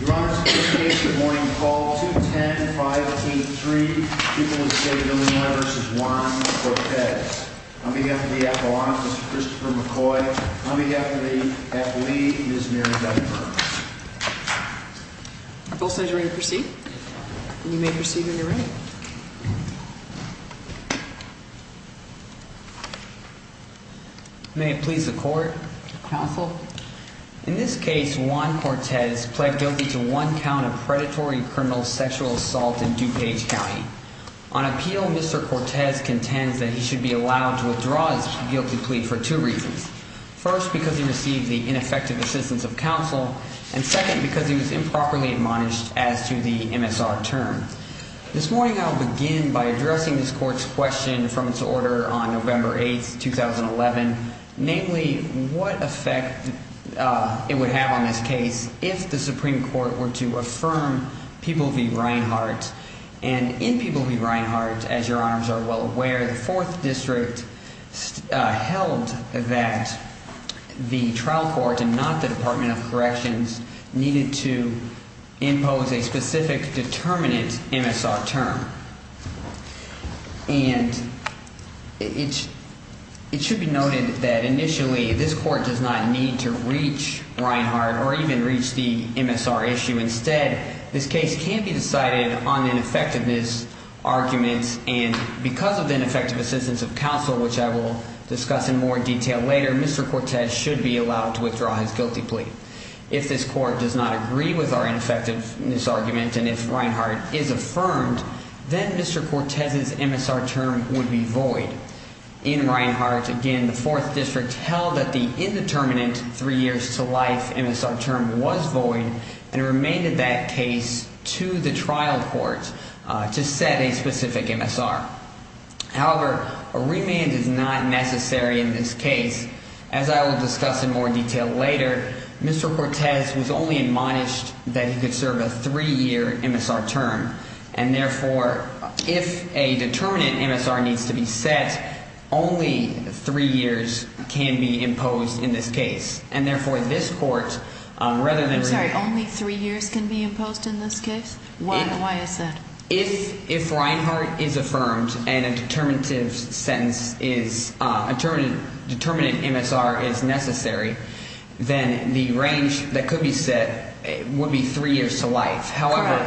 Your Honor, in this case, Good Morning Call 210-583, people of the State of Illinois v. Juan Cortez. On behalf of the Appellant, Mr. Christopher McCoy. On behalf of the athlete, Ms. Mary Guttenberg. Our both sides are ready to proceed. You may proceed in your room. May it please the Court. Counsel. In this case, Juan Cortez pled guilty to one count of predatory criminal sexual assault in DuPage County. On appeal, Mr. Cortez contends that he should be allowed to withdraw his guilty plea for two reasons. First, because he received the ineffective assistance of counsel. And second, because he was improperly admonished as to the MSR term. This morning, I'll begin by addressing this Court's question from its order on November 8th, 2011. Namely, what effect it would have on this case if the Supreme Court were to affirm People v. Reinhart. And it should be noted that initially, this Court does not need to reach Reinhart or even reach the MSR issue. Instead, this case can be decided on ineffectiveness arguments. And because of the ineffective assistance of counsel, which I will discuss in more detail later, Mr. Cortez should be allowed to withdraw his guilty plea. If this Court does not agree with our ineffectiveness argument, and if Reinhart is affirmed, then Mr. Cortez's MSR term would be void. In Reinhart, again, the Fourth District held that the indeterminate three years to life MSR term was void. And it remained in that case to the trial court to set a specific MSR. However, a remand is not necessary in this case. As I will discuss in more detail later, Mr. Cortez was only admonished that he could serve a three-year MSR term. And, therefore, if a determinate MSR needs to be set, only three years can be imposed in this case. And, therefore, this Court, rather than… I'm sorry. Only three years can be imposed in this case? Why is that? If Reinhart is affirmed and a determinative sentence is – a determinate MSR is necessary, then the range that could be set would be three years to life. However,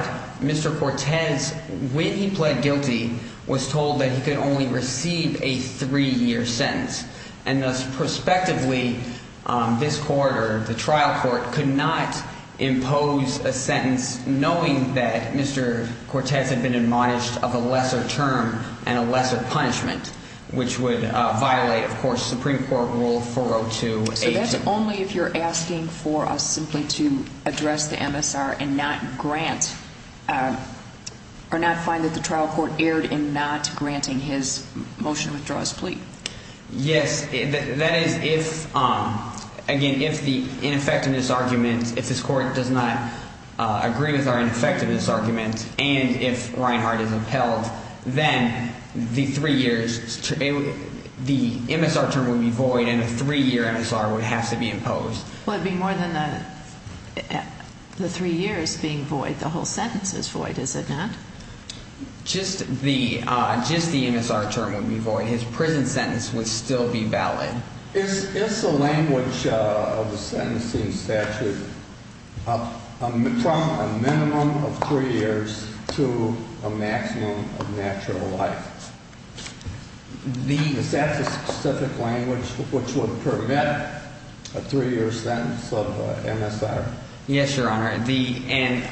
Mr. Cortez, when he pled guilty, was told that he could only receive a three-year sentence. And, thus, prospectively, this Court or the trial court could not impose a sentence knowing that Mr. Cortez had been admonished of a lesser term and a lesser punishment, which would violate, of course, Supreme Court Rule 402. So that's only if you're asking for us simply to address the MSR and not grant – or not find that the trial court erred in not granting his motion to withdraw his plea? Yes. That is if – again, if the ineffectiveness argument – if this Court does not agree with our ineffectiveness argument and if Reinhart is upheld, then the three years – the MSR term would be void and a three-year MSR would have to be imposed. Well, it would be more than the three years being void. The whole sentence is void, is it not? Just the – just the MSR term would be void. His prison sentence would still be valid. Is the language of the sentencing statute from a minimum of three years to a maximum of natural life? The – Is that the specific language which would permit a three-year sentence of MSR? Yes, Your Honor. The – and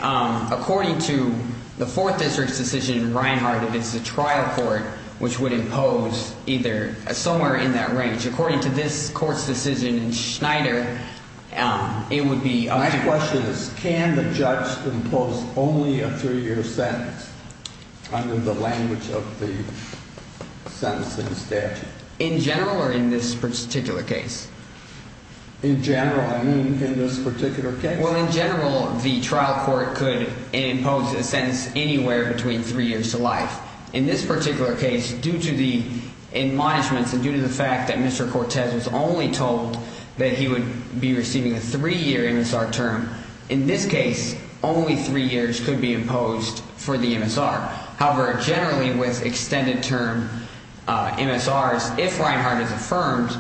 according to the Fourth District's decision in Reinhart, if it's a trial court which would impose either – somewhere in that range. According to this Court's decision in Schneider, it would be up to – My question is can the judge impose only a three-year sentence under the language of the sentencing statute? In general or in this particular case? Well, in general, the trial court could impose a sentence anywhere between three years to life. In this particular case, due to the admonishments and due to the fact that Mr. Cortez was only told that he would be receiving a three-year MSR term, in this case, only three years could be imposed for the MSR. However, generally with extended term MSRs, if Reinhart is affirmed,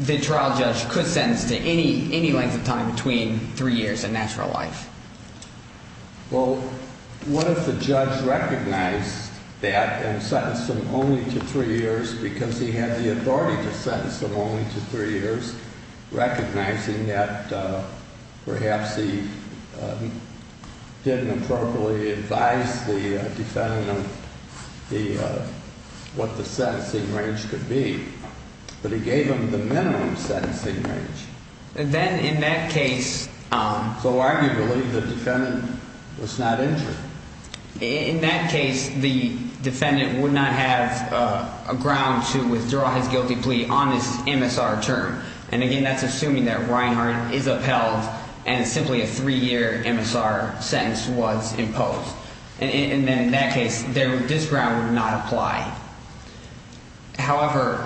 the trial judge could sentence to any length of time between three years and natural life. Well, what if the judge recognized that and sentenced him only to three years because he had the authority to sentence him only to three years, recognizing that perhaps he didn't appropriately advise the defendant of the – what the sentencing range could be. But he gave him the minimum sentencing range. Then in that case – So arguably, the defendant was not injured. In that case, the defendant would not have a ground to withdraw his guilty plea on this MSR term. And again, that's assuming that Reinhart is upheld and simply a three-year MSR sentence was imposed. And then in that case, this ground would not apply. However,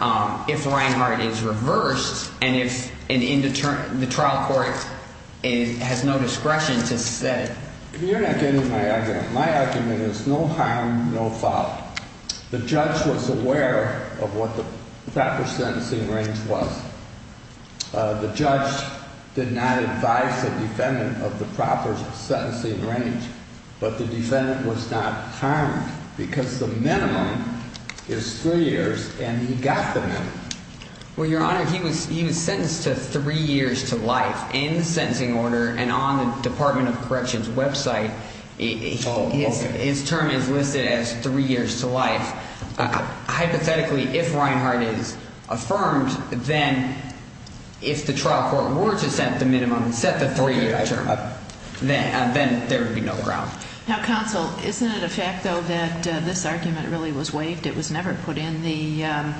if Reinhart is reversed and if the trial court has no discretion to set it – You're not getting my argument. My argument is no harm, no fault. The judge was aware of what the proper sentencing range was. The judge did not advise the defendant of the proper sentencing range, but the defendant was not harmed because the minimum is three years and he got the minimum. Well, Your Honor, he was sentenced to three years to life in the sentencing order and on the Department of Corrections website. Oh, okay. His term is listed as three years to life. Hypothetically, if Reinhart is affirmed, then if the trial court were to set the minimum, set the three-year term, then there would be no ground. Now, counsel, isn't it a fact, though, that this argument really was waived? It was never put in the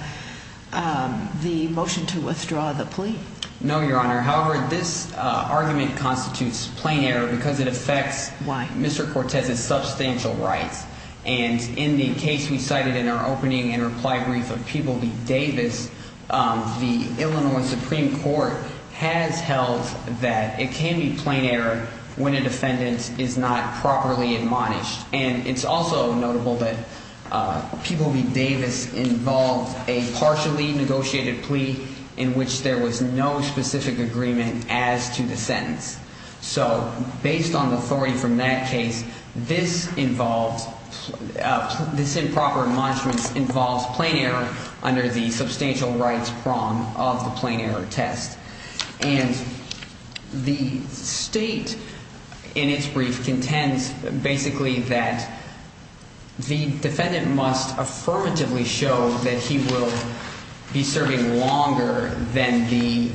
motion to withdraw the plea. No, Your Honor. However, this argument constitutes plain error because it affects Mr. Cortez's substantial rights. And in the case we cited in our opening and reply brief of People v. Davis, the Illinois Supreme Court has held that it can be plain error when a defendant is not properly admonished. And it's also notable that People v. Davis involved a partially negotiated plea in which there was no specific agreement as to the sentence. So based on the authority from that case, this improper admonishment involves plain error under the substantial rights prong of the plain error test. And the state in its brief contends basically that the defendant must affirmatively show that he will be serving longer than the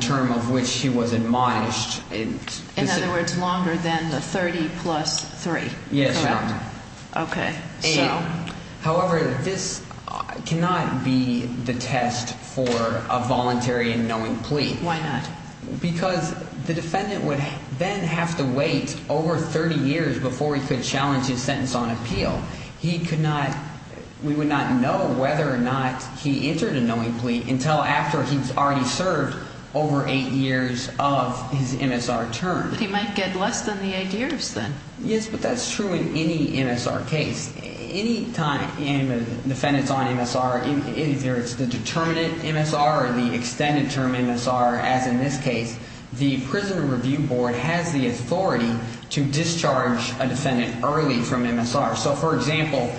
term of which he was admonished. In other words, longer than the 30 plus 3. Yes, Your Honor. Okay. However, this cannot be the test for a voluntary and knowing plea. Why not? Because the defendant would then have to wait over 30 years before he could challenge his sentence on appeal. He could not – we would not know whether or not he entered a knowing plea until after he's already served over 8 years of his MSR term. But he might get less than the 8 years then. Yes, but that's true in any MSR case. Any time a defendant is on MSR, either it's the determinate MSR or the extended term MSR, as in this case, the Prison Review Board has the authority to discharge a defendant early from MSR. So, for example,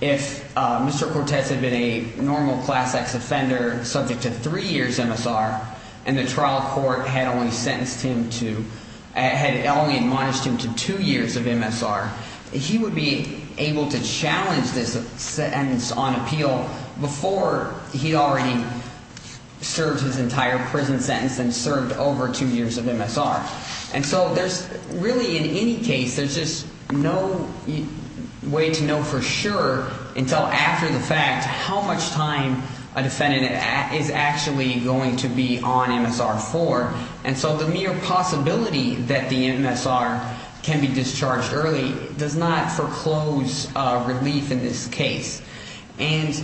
if Mr. Cortez had been a normal Class X offender subject to 3 years MSR and the trial court had only sentenced him to – had only admonished him to 2 years of MSR, he would be able to challenge this sentence on appeal before he already served his entire prison sentence and served over 2 years of MSR. And so there's – really, in any case, there's just no way to know for sure until after the fact how much time a defendant is actually going to be on MSR for. And so the mere possibility that the MSR can be discharged early does not foreclose relief in this case. And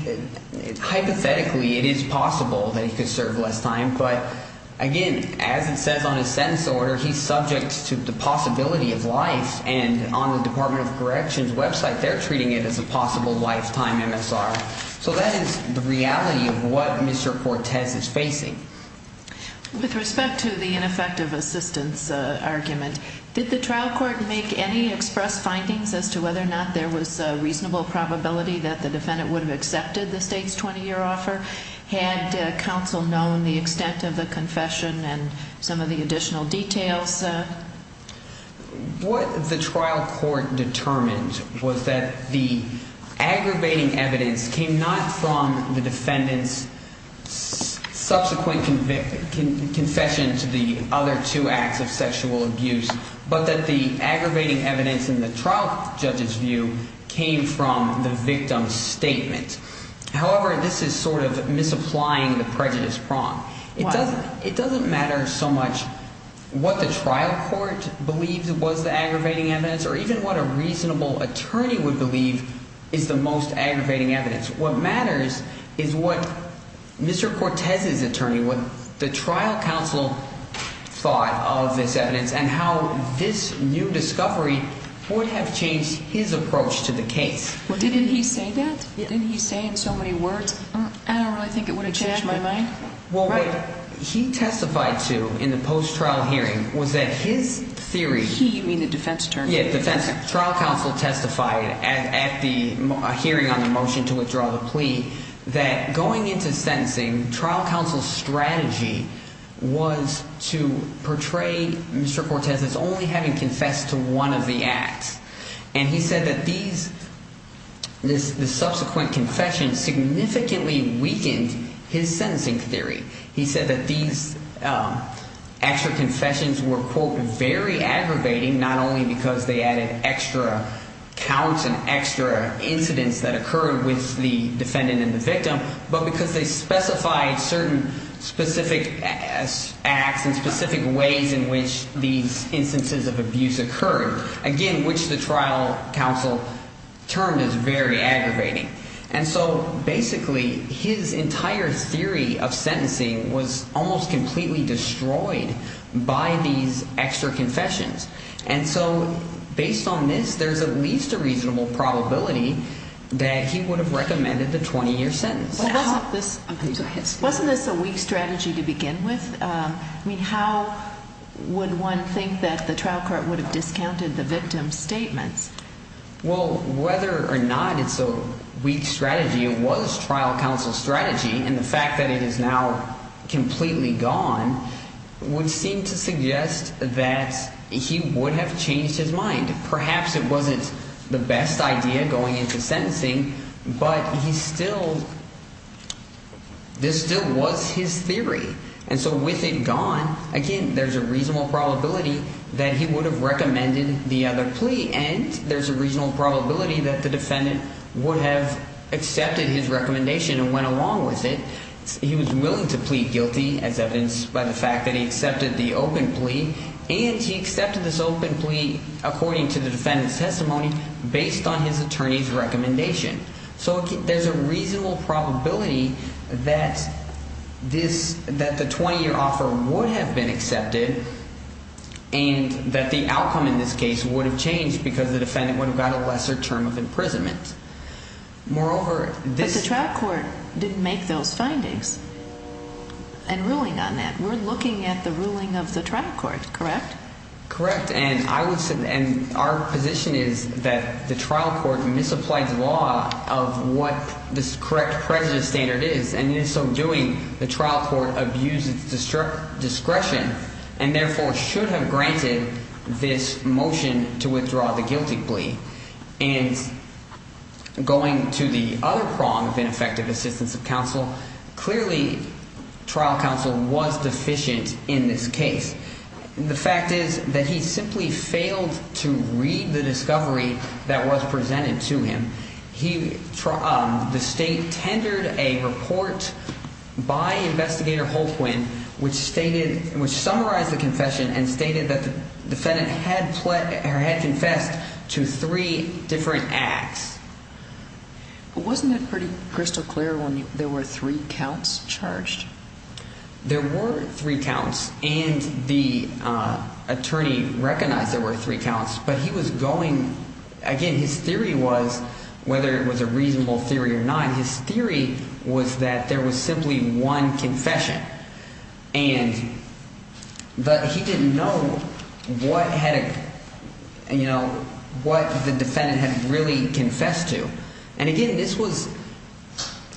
hypothetically, it is possible that he could serve less time, but again, as it says on his sentence order, he's subject to the possibility of life. And on the Department of Corrections website, they're treating it as a possible lifetime MSR. So that is the reality of what Mr. Cortez is facing. With respect to the ineffective assistance argument, did the trial court make any express findings as to whether or not there was a reasonable probability that the defendant would have accepted the State's 20-year offer? Had counsel known the extent of the confession and some of the additional details? What the trial court determined was that the aggravating evidence came not from the defendant's subsequent confession to the other two acts of sexual abuse, but that the aggravating evidence in the trial judge's view came from the victim's statement. However, this is sort of misapplying the prejudice prong. It doesn't matter so much what the trial court believes was the aggravating evidence or even what a reasonable attorney would believe is the most aggravating evidence. What matters is what Mr. Cortez's attorney, what the trial counsel thought of this evidence and how this new discovery would have changed his approach to the case. Didn't he say that? Didn't he say in so many words, I don't really think it would have changed my mind? Well, what he testified to in the post-trial hearing was that his theory… He, you mean the defense attorney? Yeah, defense. Trial counsel testified at the hearing on the motion to withdraw the plea that going into sentencing, trial counsel's strategy was to portray Mr. Cortez as only having confessed to one of the acts. And he said that these, the subsequent confession significantly weakened his sentencing theory. He said that these extra confessions were, quote, very aggravating not only because they added extra counts and extra incidents that occurred with the defendant and the victim, but because they specified certain specific acts and specific ways in which these instances of abuse occurred. Again, which the trial counsel termed as very aggravating. And so basically his entire theory of sentencing was almost completely destroyed by these extra confessions. And so based on this, there's at least a reasonable probability that he would have recommended the 20-year sentence. Wasn't this a weak strategy to begin with? I mean, how would one think that the trial court would have discounted the victim's statements? Well, whether or not it's a weak strategy, it was trial counsel's strategy. And the fact that it is now completely gone would seem to suggest that he would have changed his mind. Perhaps it wasn't the best idea going into sentencing, but he still, this still was his theory. And so with it gone, again, there's a reasonable probability that he would have recommended the other plea. And there's a reasonable probability that the defendant would have accepted his recommendation and went along with it. He was willing to plead guilty as evidenced by the fact that he accepted the open plea. And he accepted this open plea, according to the defendant's testimony, based on his attorney's recommendation. So there's a reasonable probability that this, that the 20-year offer would have been accepted and that the outcome in this case would have changed because the defendant would have got a lesser term of imprisonment. Moreover, this… But the trial court didn't make those findings and ruling on that. We're looking at the ruling of the trial court, correct? Correct, and our position is that the trial court misapplied the law of what this correct prejudice standard is. And in so doing, the trial court abused its discretion and therefore should have granted this motion to withdraw the guilty plea. And going to the other prong of ineffective assistance of counsel, clearly trial counsel was deficient in this case. The fact is that he simply failed to read the discovery that was presented to him. He… The state tendered a report by Investigator Holtwin which stated, which summarized the confession and stated that the defendant had confessed to three different acts. But wasn't it pretty crystal clear when there were three counts charged? There were three counts and the attorney recognized there were three counts, but he was going – again, his theory was, whether it was a reasonable theory or not, his theory was that there was simply one confession. And – but he didn't know what had – what the defendant had really confessed to. And again, this was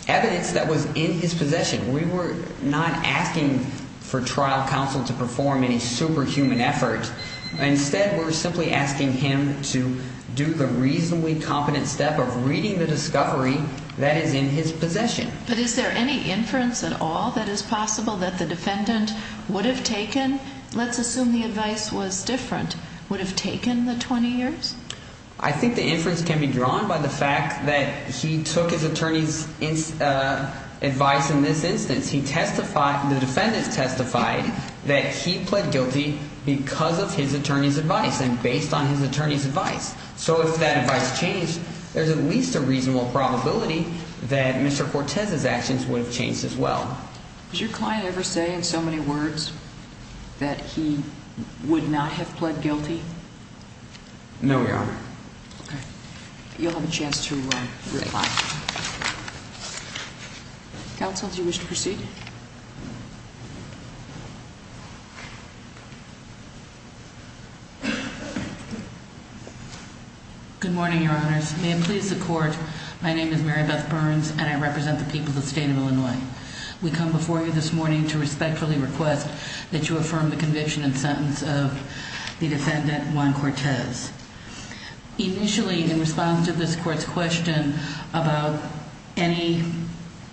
evidence that was in his possession. We were not asking for trial counsel to perform any superhuman effort. Instead, we're simply asking him to do the reasonably competent step of reading the discovery that is in his possession. But is there any inference at all that is possible that the defendant would have taken – let's assume the advice was different – would have taken the 20 years? I think the inference can be drawn by the fact that he took his attorney's advice in this instance. He testified – the defendant testified that he pled guilty because of his attorney's advice and based on his attorney's advice. So if that advice changed, there's at least a reasonable probability that Mr. Cortez's actions would have changed as well. Does your client ever say in so many words that he would not have pled guilty? No, Your Honor. Okay. You'll have a chance to reply. Great. Counsel, do you wish to proceed? Good morning, Your Honors. May it please the Court, my name is Mary Beth Burns and I represent the people of the state of Illinois. We come before you this morning to respectfully request that you affirm the conviction and sentence of the defendant, Juan Cortez. Initially, in response to this Court's question about any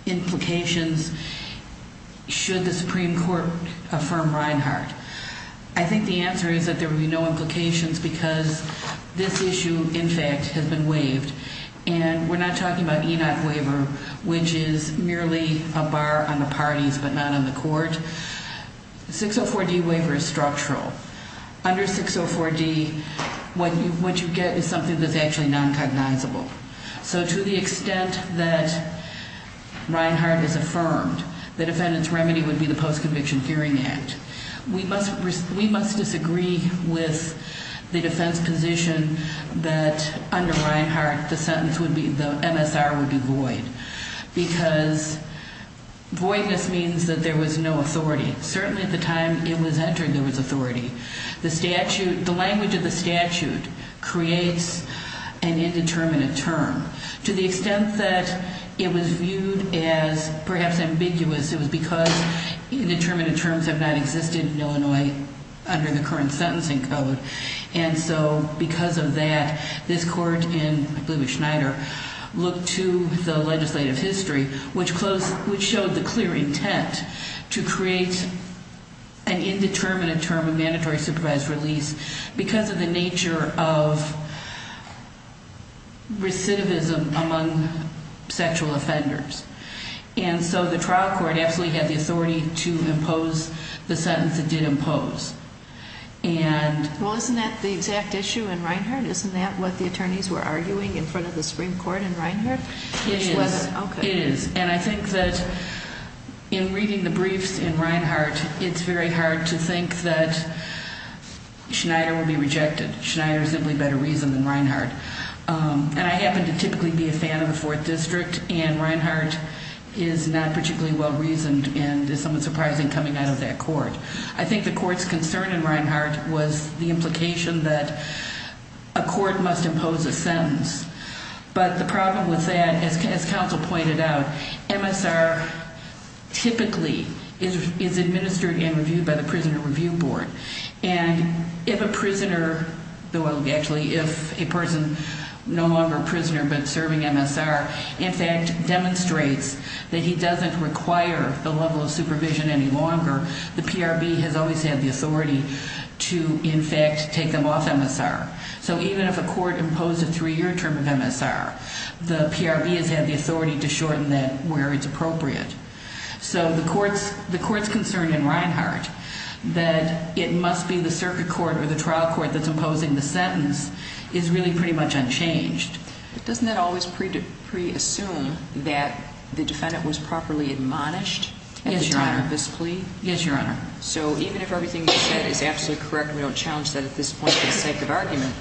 implications, should the Supreme Court affirm Reinhart? I think the answer is that there would be no implications because this issue, in fact, has been waived. And we're not talking about ENOC waiver, which is merely a bar on the parties but not on the Court. 604D waiver is structural. Under 604D, what you get is something that's actually non-cognizable. So to the extent that Reinhart is affirmed, the defendant's remedy would be the Post-Conviction Hearing Act. We must disagree with the defense position that under Reinhart, the sentence would be, the MSR would be void. Because voidness means that there was no authority. Certainly at the time it was entered, there was authority. The language of the statute creates an indeterminate term. To the extent that it was viewed as, perhaps, ambiguous, it was because indeterminate terms have not existed in Illinois under the current sentencing code. And so, because of that, this Court, and I believe it was Schneider, looked to the legislative history, which showed the clear intent to create an indeterminate term of mandatory supervised release because of the nature of recidivism among sexual offenders. And so the trial court absolutely had the authority to impose the sentence it did impose. And... Well, isn't that the exact issue in Reinhart? Isn't that what the attorneys were arguing in front of the Supreme Court in Reinhart? It is. It is. And I think that in reading the briefs in Reinhart, it's very hard to think that Schneider will be rejected. Schneider is simply better reasoned than Reinhart. And I happen to typically be a fan of the Fourth District, and Reinhart is not particularly well reasoned and is somewhat surprising coming out of that court. I think the court's concern in Reinhart was the implication that a court must impose a sentence. But the problem with that, as counsel pointed out, MSR typically is administered and reviewed by the Prisoner Review Board. And if a prisoner, well, actually, if a person no longer a prisoner but serving MSR, in fact, demonstrates that he doesn't require the level of supervision any longer, the PRB has always had the authority to, in fact, take them off MSR. So even if a court imposed a three-year term of MSR, the PRB has had the authority to shorten that where it's appropriate. So the court's concern in Reinhart that it must be the circuit court or the trial court that's imposing the sentence is really pretty much unchanged. But doesn't that always preassume that the defendant was properly admonished at the time of this plea? Yes, Your Honor. Yes, Your Honor. So even if everything you said is absolutely correct and we don't challenge that at this point for the sake of argument,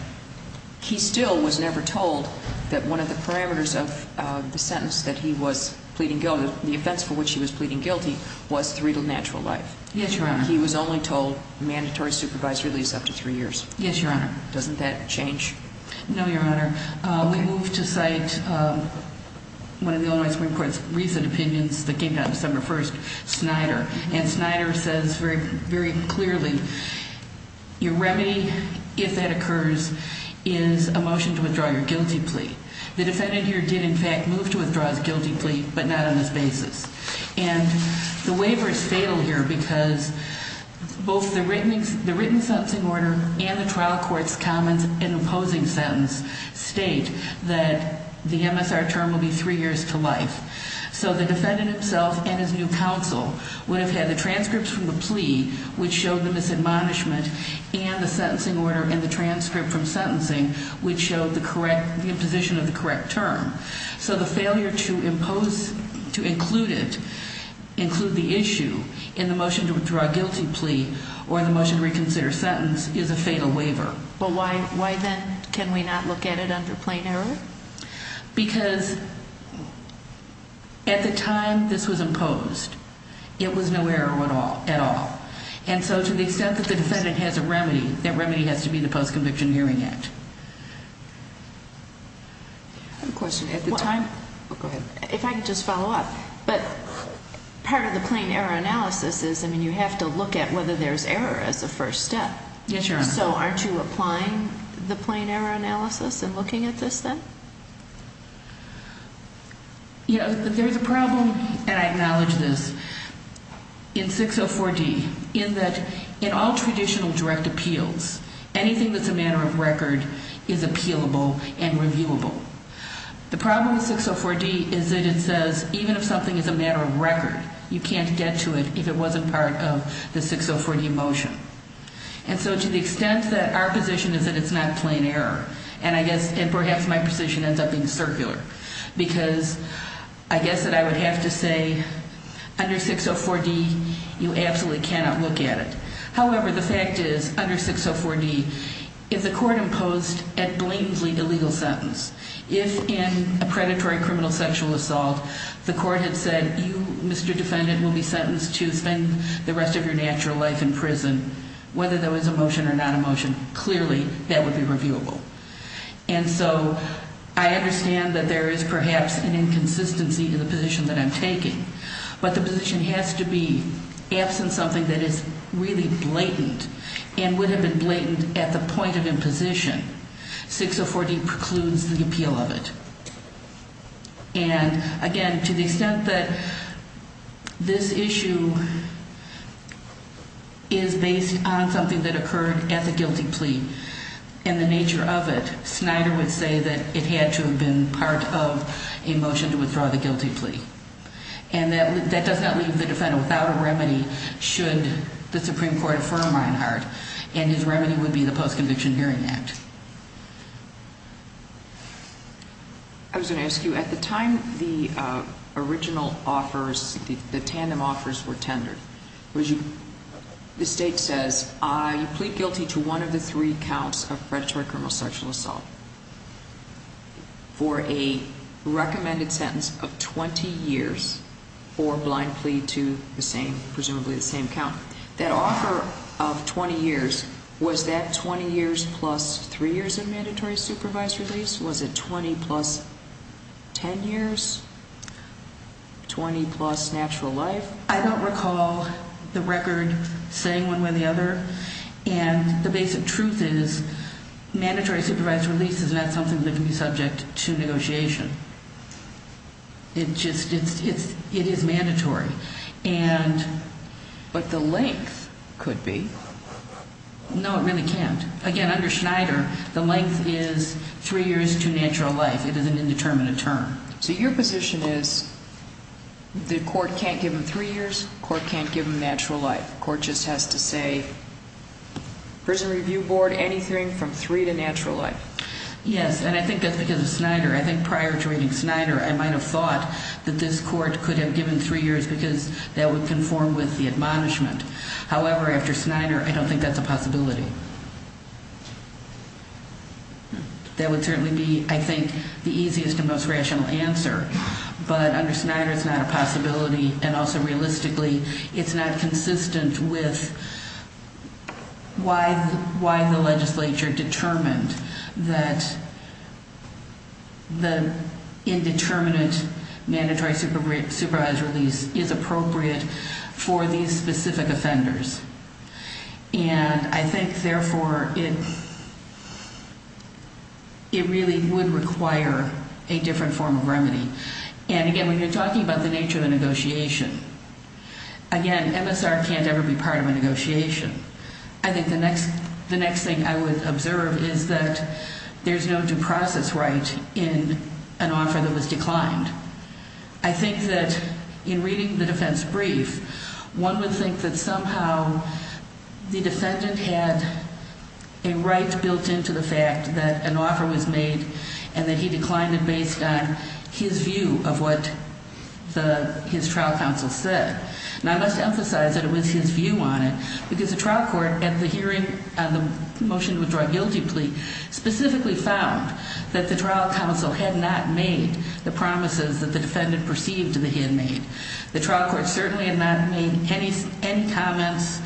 he still was never told that one of the parameters of the sentence that he was pleading guilty, the offense for which he was pleading guilty, was three to natural life. Yes, Your Honor. He was only told mandatory supervisory release up to three years. Yes, Your Honor. Doesn't that change? No, Your Honor. We move to cite one of the Illinois Supreme Court's recent opinions that came out December 1st, Snyder. And Snyder says very clearly, your remedy, if that occurs, is a motion to withdraw your guilty plea. The defendant here did, in fact, move to withdraw his guilty plea, but not on this basis. And the waiver is fatal here because both the written sentencing order and the trial court's comments in the opposing sentence state that the MSR term will be three years to life. So the defendant himself and his new counsel would have had the transcripts from the plea, which showed the misadmonishment, and the sentencing order and the transcript from sentencing, which showed the correct, the imposition of the correct term. So the failure to impose, to include it, include the issue in the motion to withdraw a guilty plea or the motion to reconsider a sentence is a fatal waiver. But why then can we not look at it under plain error? Because at the time this was imposed, it was no error at all. And so to the extent that the defendant has a remedy, that remedy has to be the Post-Conviction Hearing Act. I have a question. At the time? Go ahead. If I could just follow up. But part of the plain error analysis is, I mean, you have to look at whether there's error as a first step. Yes, Your Honor. So aren't you applying the plain error analysis and looking at this then? You know, there's a problem, and I acknowledge this, in 604D, in that in all traditional direct appeals, anything that's a matter of record is appealable and reviewable. The problem with 604D is that it says even if something is a matter of record, you can't get to it if it wasn't part of the 604D motion. And so to the extent that our position is that it's not plain error, and I guess, and perhaps my position ends up being circular, because I guess that I would have to say under 604D, you absolutely cannot look at it. However, the fact is, under 604D, if the court imposed a blatantly illegal sentence, if in a predatory criminal sexual assault the court had said, you, Mr. Defendant, will be sentenced to spend the rest of your natural life in prison, whether there was a motion or not a motion, clearly that would be reviewable. And so I understand that there is perhaps an inconsistency in the position that I'm taking, but the position has to be absent something that is really blatant and would have been blatant at the point of imposition. 604D precludes the appeal of it. And, again, to the extent that this issue is based on something that occurred at the guilty plea and the nature of it, Snyder would say that it had to have been part of a motion to withdraw the guilty plea. And that does not leave the defendant without a remedy should the Supreme Court affirm Reinhart, and his remedy would be the Post-Conviction Hearing Act. I was going to ask you, at the time the original offers, the tandem offers were tendered, the state says, I plead guilty to one of the three counts of predatory criminal sexual assault for a recommended sentence of 20 years or blind plea to the same, presumably the same count. That offer of 20 years, was that 20 years plus three years of mandatory supervised release? Was it 20 plus 10 years, 20 plus natural life? I don't recall the record saying one way or the other. And the basic truth is mandatory supervised release is not something that can be subject to negotiation. It is mandatory. But the length could be. No, it really can't. Again, under Snyder, the length is three years to natural life. It is an indeterminate term. So your position is the court can't give him three years, the court can't give him natural life. The court just has to say, Prison Review Board, anything from three to natural life. Yes, and I think that's because of Snyder. I think prior to reading Snyder, I might have thought that this court could have given three years because that would conform with the admonishment. However, after Snyder, I don't think that's a possibility. That would certainly be, I think, the easiest and most rational answer. But under Snyder, it's not a possibility, and also realistically, it's not consistent with why the legislature determined that the indeterminate mandatory supervised release is appropriate for these specific offenders. And I think, therefore, it really would require a different form of remedy. And again, when you're talking about the nature of the negotiation, again, MSR can't ever be part of a negotiation. I think the next thing I would observe is that there's no due process right in an offer that was declined. I think that in reading the defense brief, one would think that somehow the defendant had a right built into the fact that an offer was made and that he declined it based on his view of what his trial counsel said. And I must emphasize that it was his view on it because the trial court at the hearing on the motion to withdraw a guilty plea specifically found that the trial counsel had not made the promises that the defendant perceived that he had made. The trial court certainly had not made any comments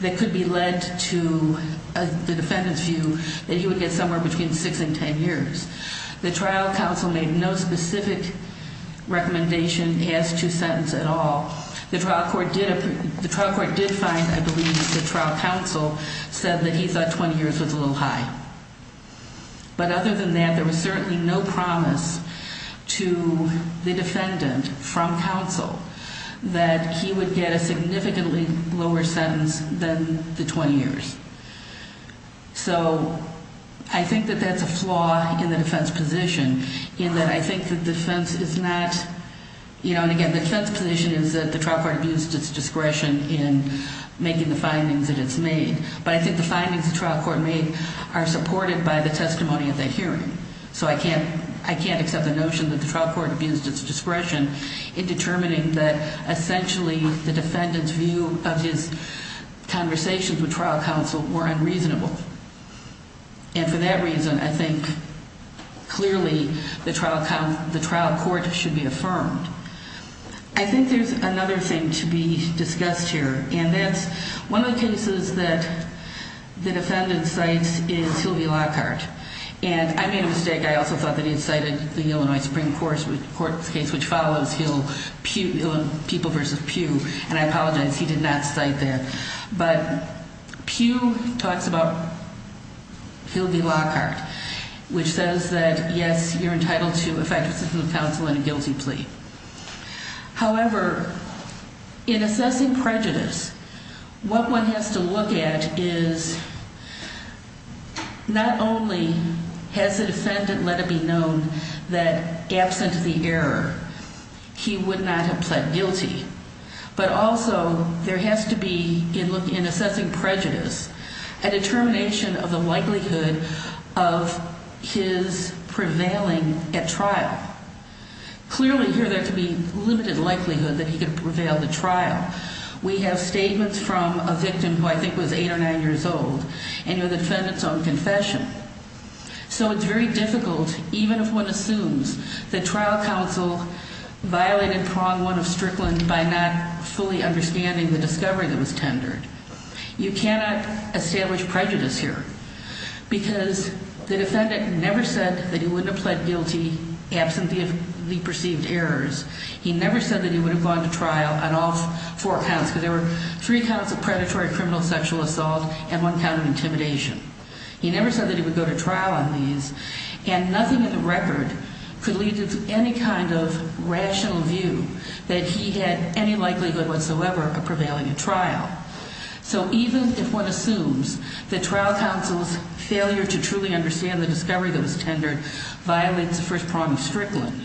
that could be led to the defendant's view that he would get somewhere between 6 and 10 years. The trial counsel made no specific recommendation as to sentence at all. The trial court did find, I believe, that the trial counsel said that he thought 20 years was a little high. But other than that, there was certainly no promise to the defendant from counsel that he would get a significantly lower sentence than the 20 years. So I think that that's a flaw in the defense position in that I think the defense is not, you know, again, the defense position is that the trial court abused its discretion in making the findings that it's made. But I think the findings the trial court made are supported by the testimony at that hearing. So I can't accept the notion that the trial court abused its discretion in determining that, essentially, the defendant's view of his conversations with trial counsel were unreasonable. And for that reason, I think clearly the trial court should be affirmed. I think there's another thing to be discussed here. And that's one of the cases that the defendant cites is Hill v. Lockhart. And I made a mistake. I also thought that he had cited the Illinois Supreme Court's case, which follows Hill v. Pugh. And I apologize. He did not cite that. But Pugh talks about Hill v. Lockhart, which says that, yes, you're entitled to a fact-assessing counsel and a guilty plea. However, in assessing prejudice, what one has to look at is not only has the defendant let it be known that, absent the error, he would not have pled guilty, but also there has to be, in assessing prejudice, a determination of the likelihood of his prevailing at trial. Clearly, here there could be limited likelihood that he could prevail at the trial. We have statements from a victim who I think was 8 or 9 years old and the defendant's own confession. So it's very difficult, even if one assumes that trial counsel violated prong one of Strickland by not fully understanding the discovery that was tendered. You cannot establish prejudice here because the defendant never said that he wouldn't have pled guilty, absent the perceived errors. He never said that he would have gone to trial on all four counts, because there were three counts of predatory criminal sexual assault and one count of intimidation. He never said that he would go to trial on these. And nothing in the record could lead to any kind of rational view that he had any likelihood whatsoever of prevailing at trial. So even if one assumes that trial counsel's failure to truly understand the discovery that was tendered violates the first prong of Strickland,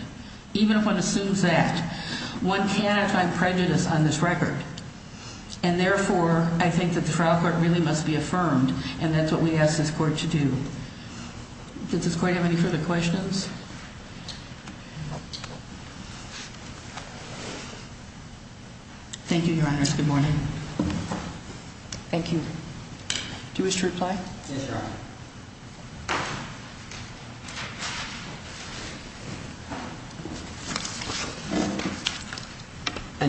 even if one assumes that, one cannot find prejudice on this record. And therefore, I think that the trial court really must be affirmed. And that's what we ask this court to do. Does this court have any further questions? Thank you, Your Honor. Good morning. Thank you. Do you wish to reply? Yes, Your Honor.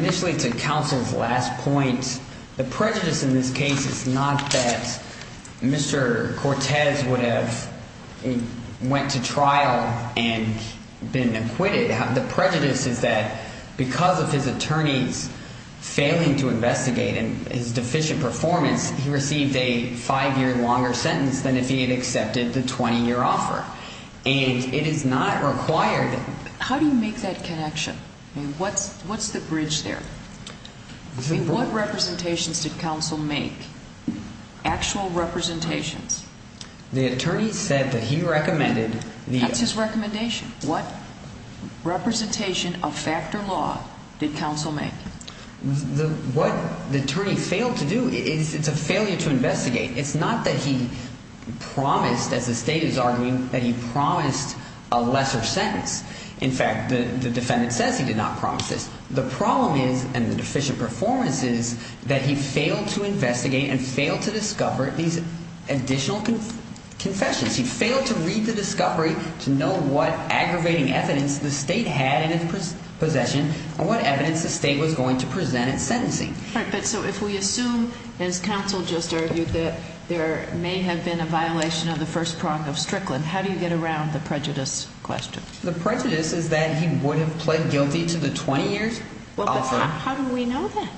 Initially, to counsel's last point, the prejudice in this case is not that Mr. Cortez would have went to trial and been acquitted. The prejudice is that because of his attorney's failing to investigate and his deficient performance, he received a five-year longer sentence than if he had accepted the 20-year offer. And it is not required. How do you make that connection? I mean, what's the bridge there? I mean, what representations did counsel make, actual representations? The attorney said that he recommended the – What's his recommendation? What representation of fact or law did counsel make? What the attorney failed to do is it's a failure to investigate. It's not that he promised, as the State is arguing, that he promised a lesser sentence. In fact, the defendant says he did not promise this. The problem is, and the deficient performance is, that he failed to investigate and failed to discover these additional confessions. He failed to read the discovery to know what aggravating evidence the State had in its possession and what evidence the State was going to present at sentencing. All right, but so if we assume, as counsel just argued, that there may have been a violation of the first prong of Strickland, how do you get around the prejudice question? The prejudice is that he would have pled guilty to the 20-year offer. Well, but how do we know that?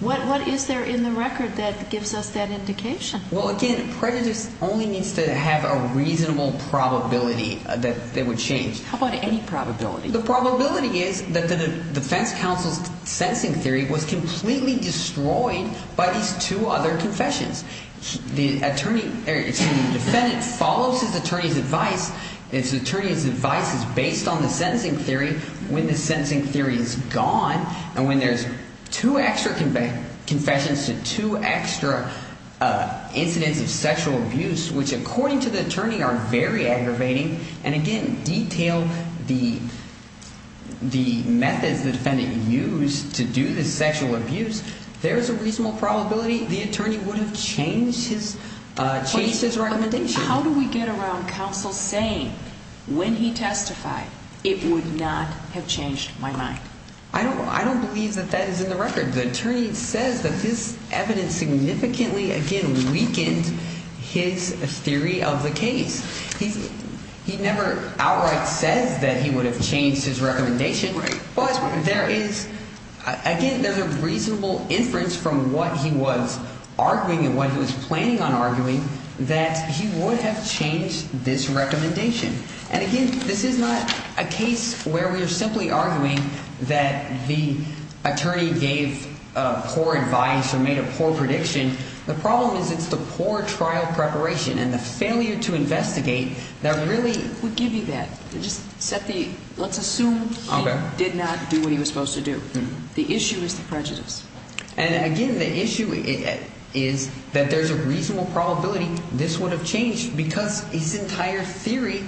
What is there in the record that gives us that indication? Well, again, prejudice only needs to have a reasonable probability that they would change. How about any probability? The probability is that the defense counsel's sentencing theory was completely destroyed by these two other confessions. The attorney – or, excuse me, the defendant follows his attorney's advice. His attorney's advice is based on the sentencing theory. When the sentencing theory is gone and when there's two extra confessions to two extra incidents of sexual abuse, which, according to the attorney, are very aggravating, and, again, detail the methods the defendant used to do the sexual abuse, there is a reasonable probability the attorney would have changed his recommendation. How do we get around counsel saying, when he testified, it would not have changed my mind? I don't believe that that is in the record. The attorney says that this evidence significantly, again, weakened his theory of the case. He never outright says that he would have changed his recommendation, but there is – again, there's a reasonable inference from what he was arguing and what he was planning on arguing that he would have changed this recommendation. And, again, this is not a case where we are simply arguing that the attorney gave poor advice or made a poor prediction. The problem is it's the poor trial preparation and the failure to investigate that really – We give you that. Just set the – let's assume he did not do what he was supposed to do. The issue is the prejudice. And, again, the issue is that there's a reasonable probability this would have changed because his entire theory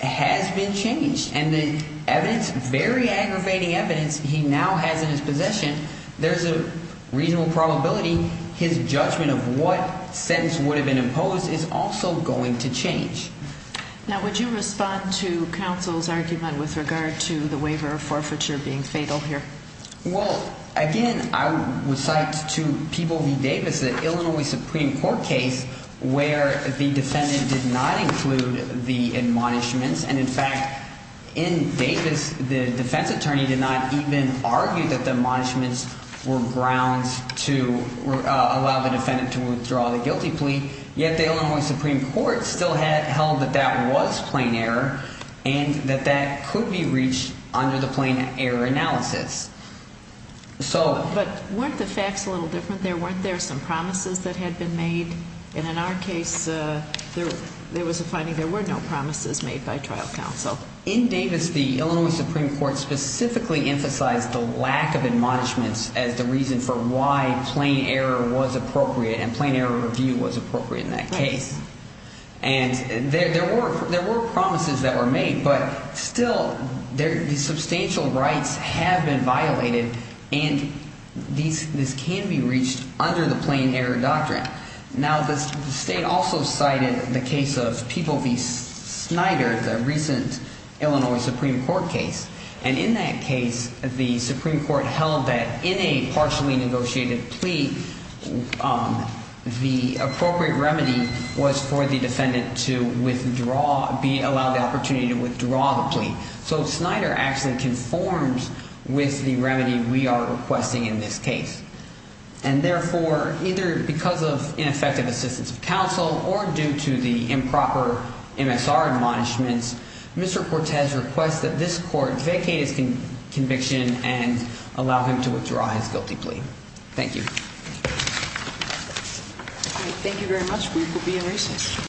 has been changed. And the evidence, very aggravating evidence he now has in his possession, there's a reasonable probability his judgment of what sentence would have been imposed is also going to change. Now, would you respond to counsel's argument with regard to the waiver of forfeiture being fatal here? Well, again, I would cite to People v. Davis the Illinois Supreme Court case where the defendant did not include the admonishments. And, in fact, in Davis the defense attorney did not even argue that the admonishments were grounds to allow the defendant to withdraw the guilty plea. Yet the Illinois Supreme Court still held that that was plain error and that that could be reached under the plain error analysis. So – But weren't the facts a little different there? Weren't there some promises that had been made? And in our case there was a finding there were no promises made by trial counsel. In Davis the Illinois Supreme Court specifically emphasized the lack of admonishments as the reason for why plain error was appropriate and plain error review was appropriate in that case. And there were promises that were made, but still the substantial rights have been violated and this can be reached under the plain error doctrine. Now, the state also cited the case of People v. Snyder, the recent Illinois Supreme Court case. And in that case the Supreme Court held that in a partially negotiated plea the appropriate remedy was for the defendant to withdraw – allow the opportunity to withdraw the plea. So Snyder actually conforms with the remedy we are requesting in this case. And therefore, either because of ineffective assistance of counsel or due to the improper MSR admonishments, Mr. Cortez requests that this court vacate his conviction and allow him to withdraw his guilty plea. Thank you. Thank you very much. We will be in recess.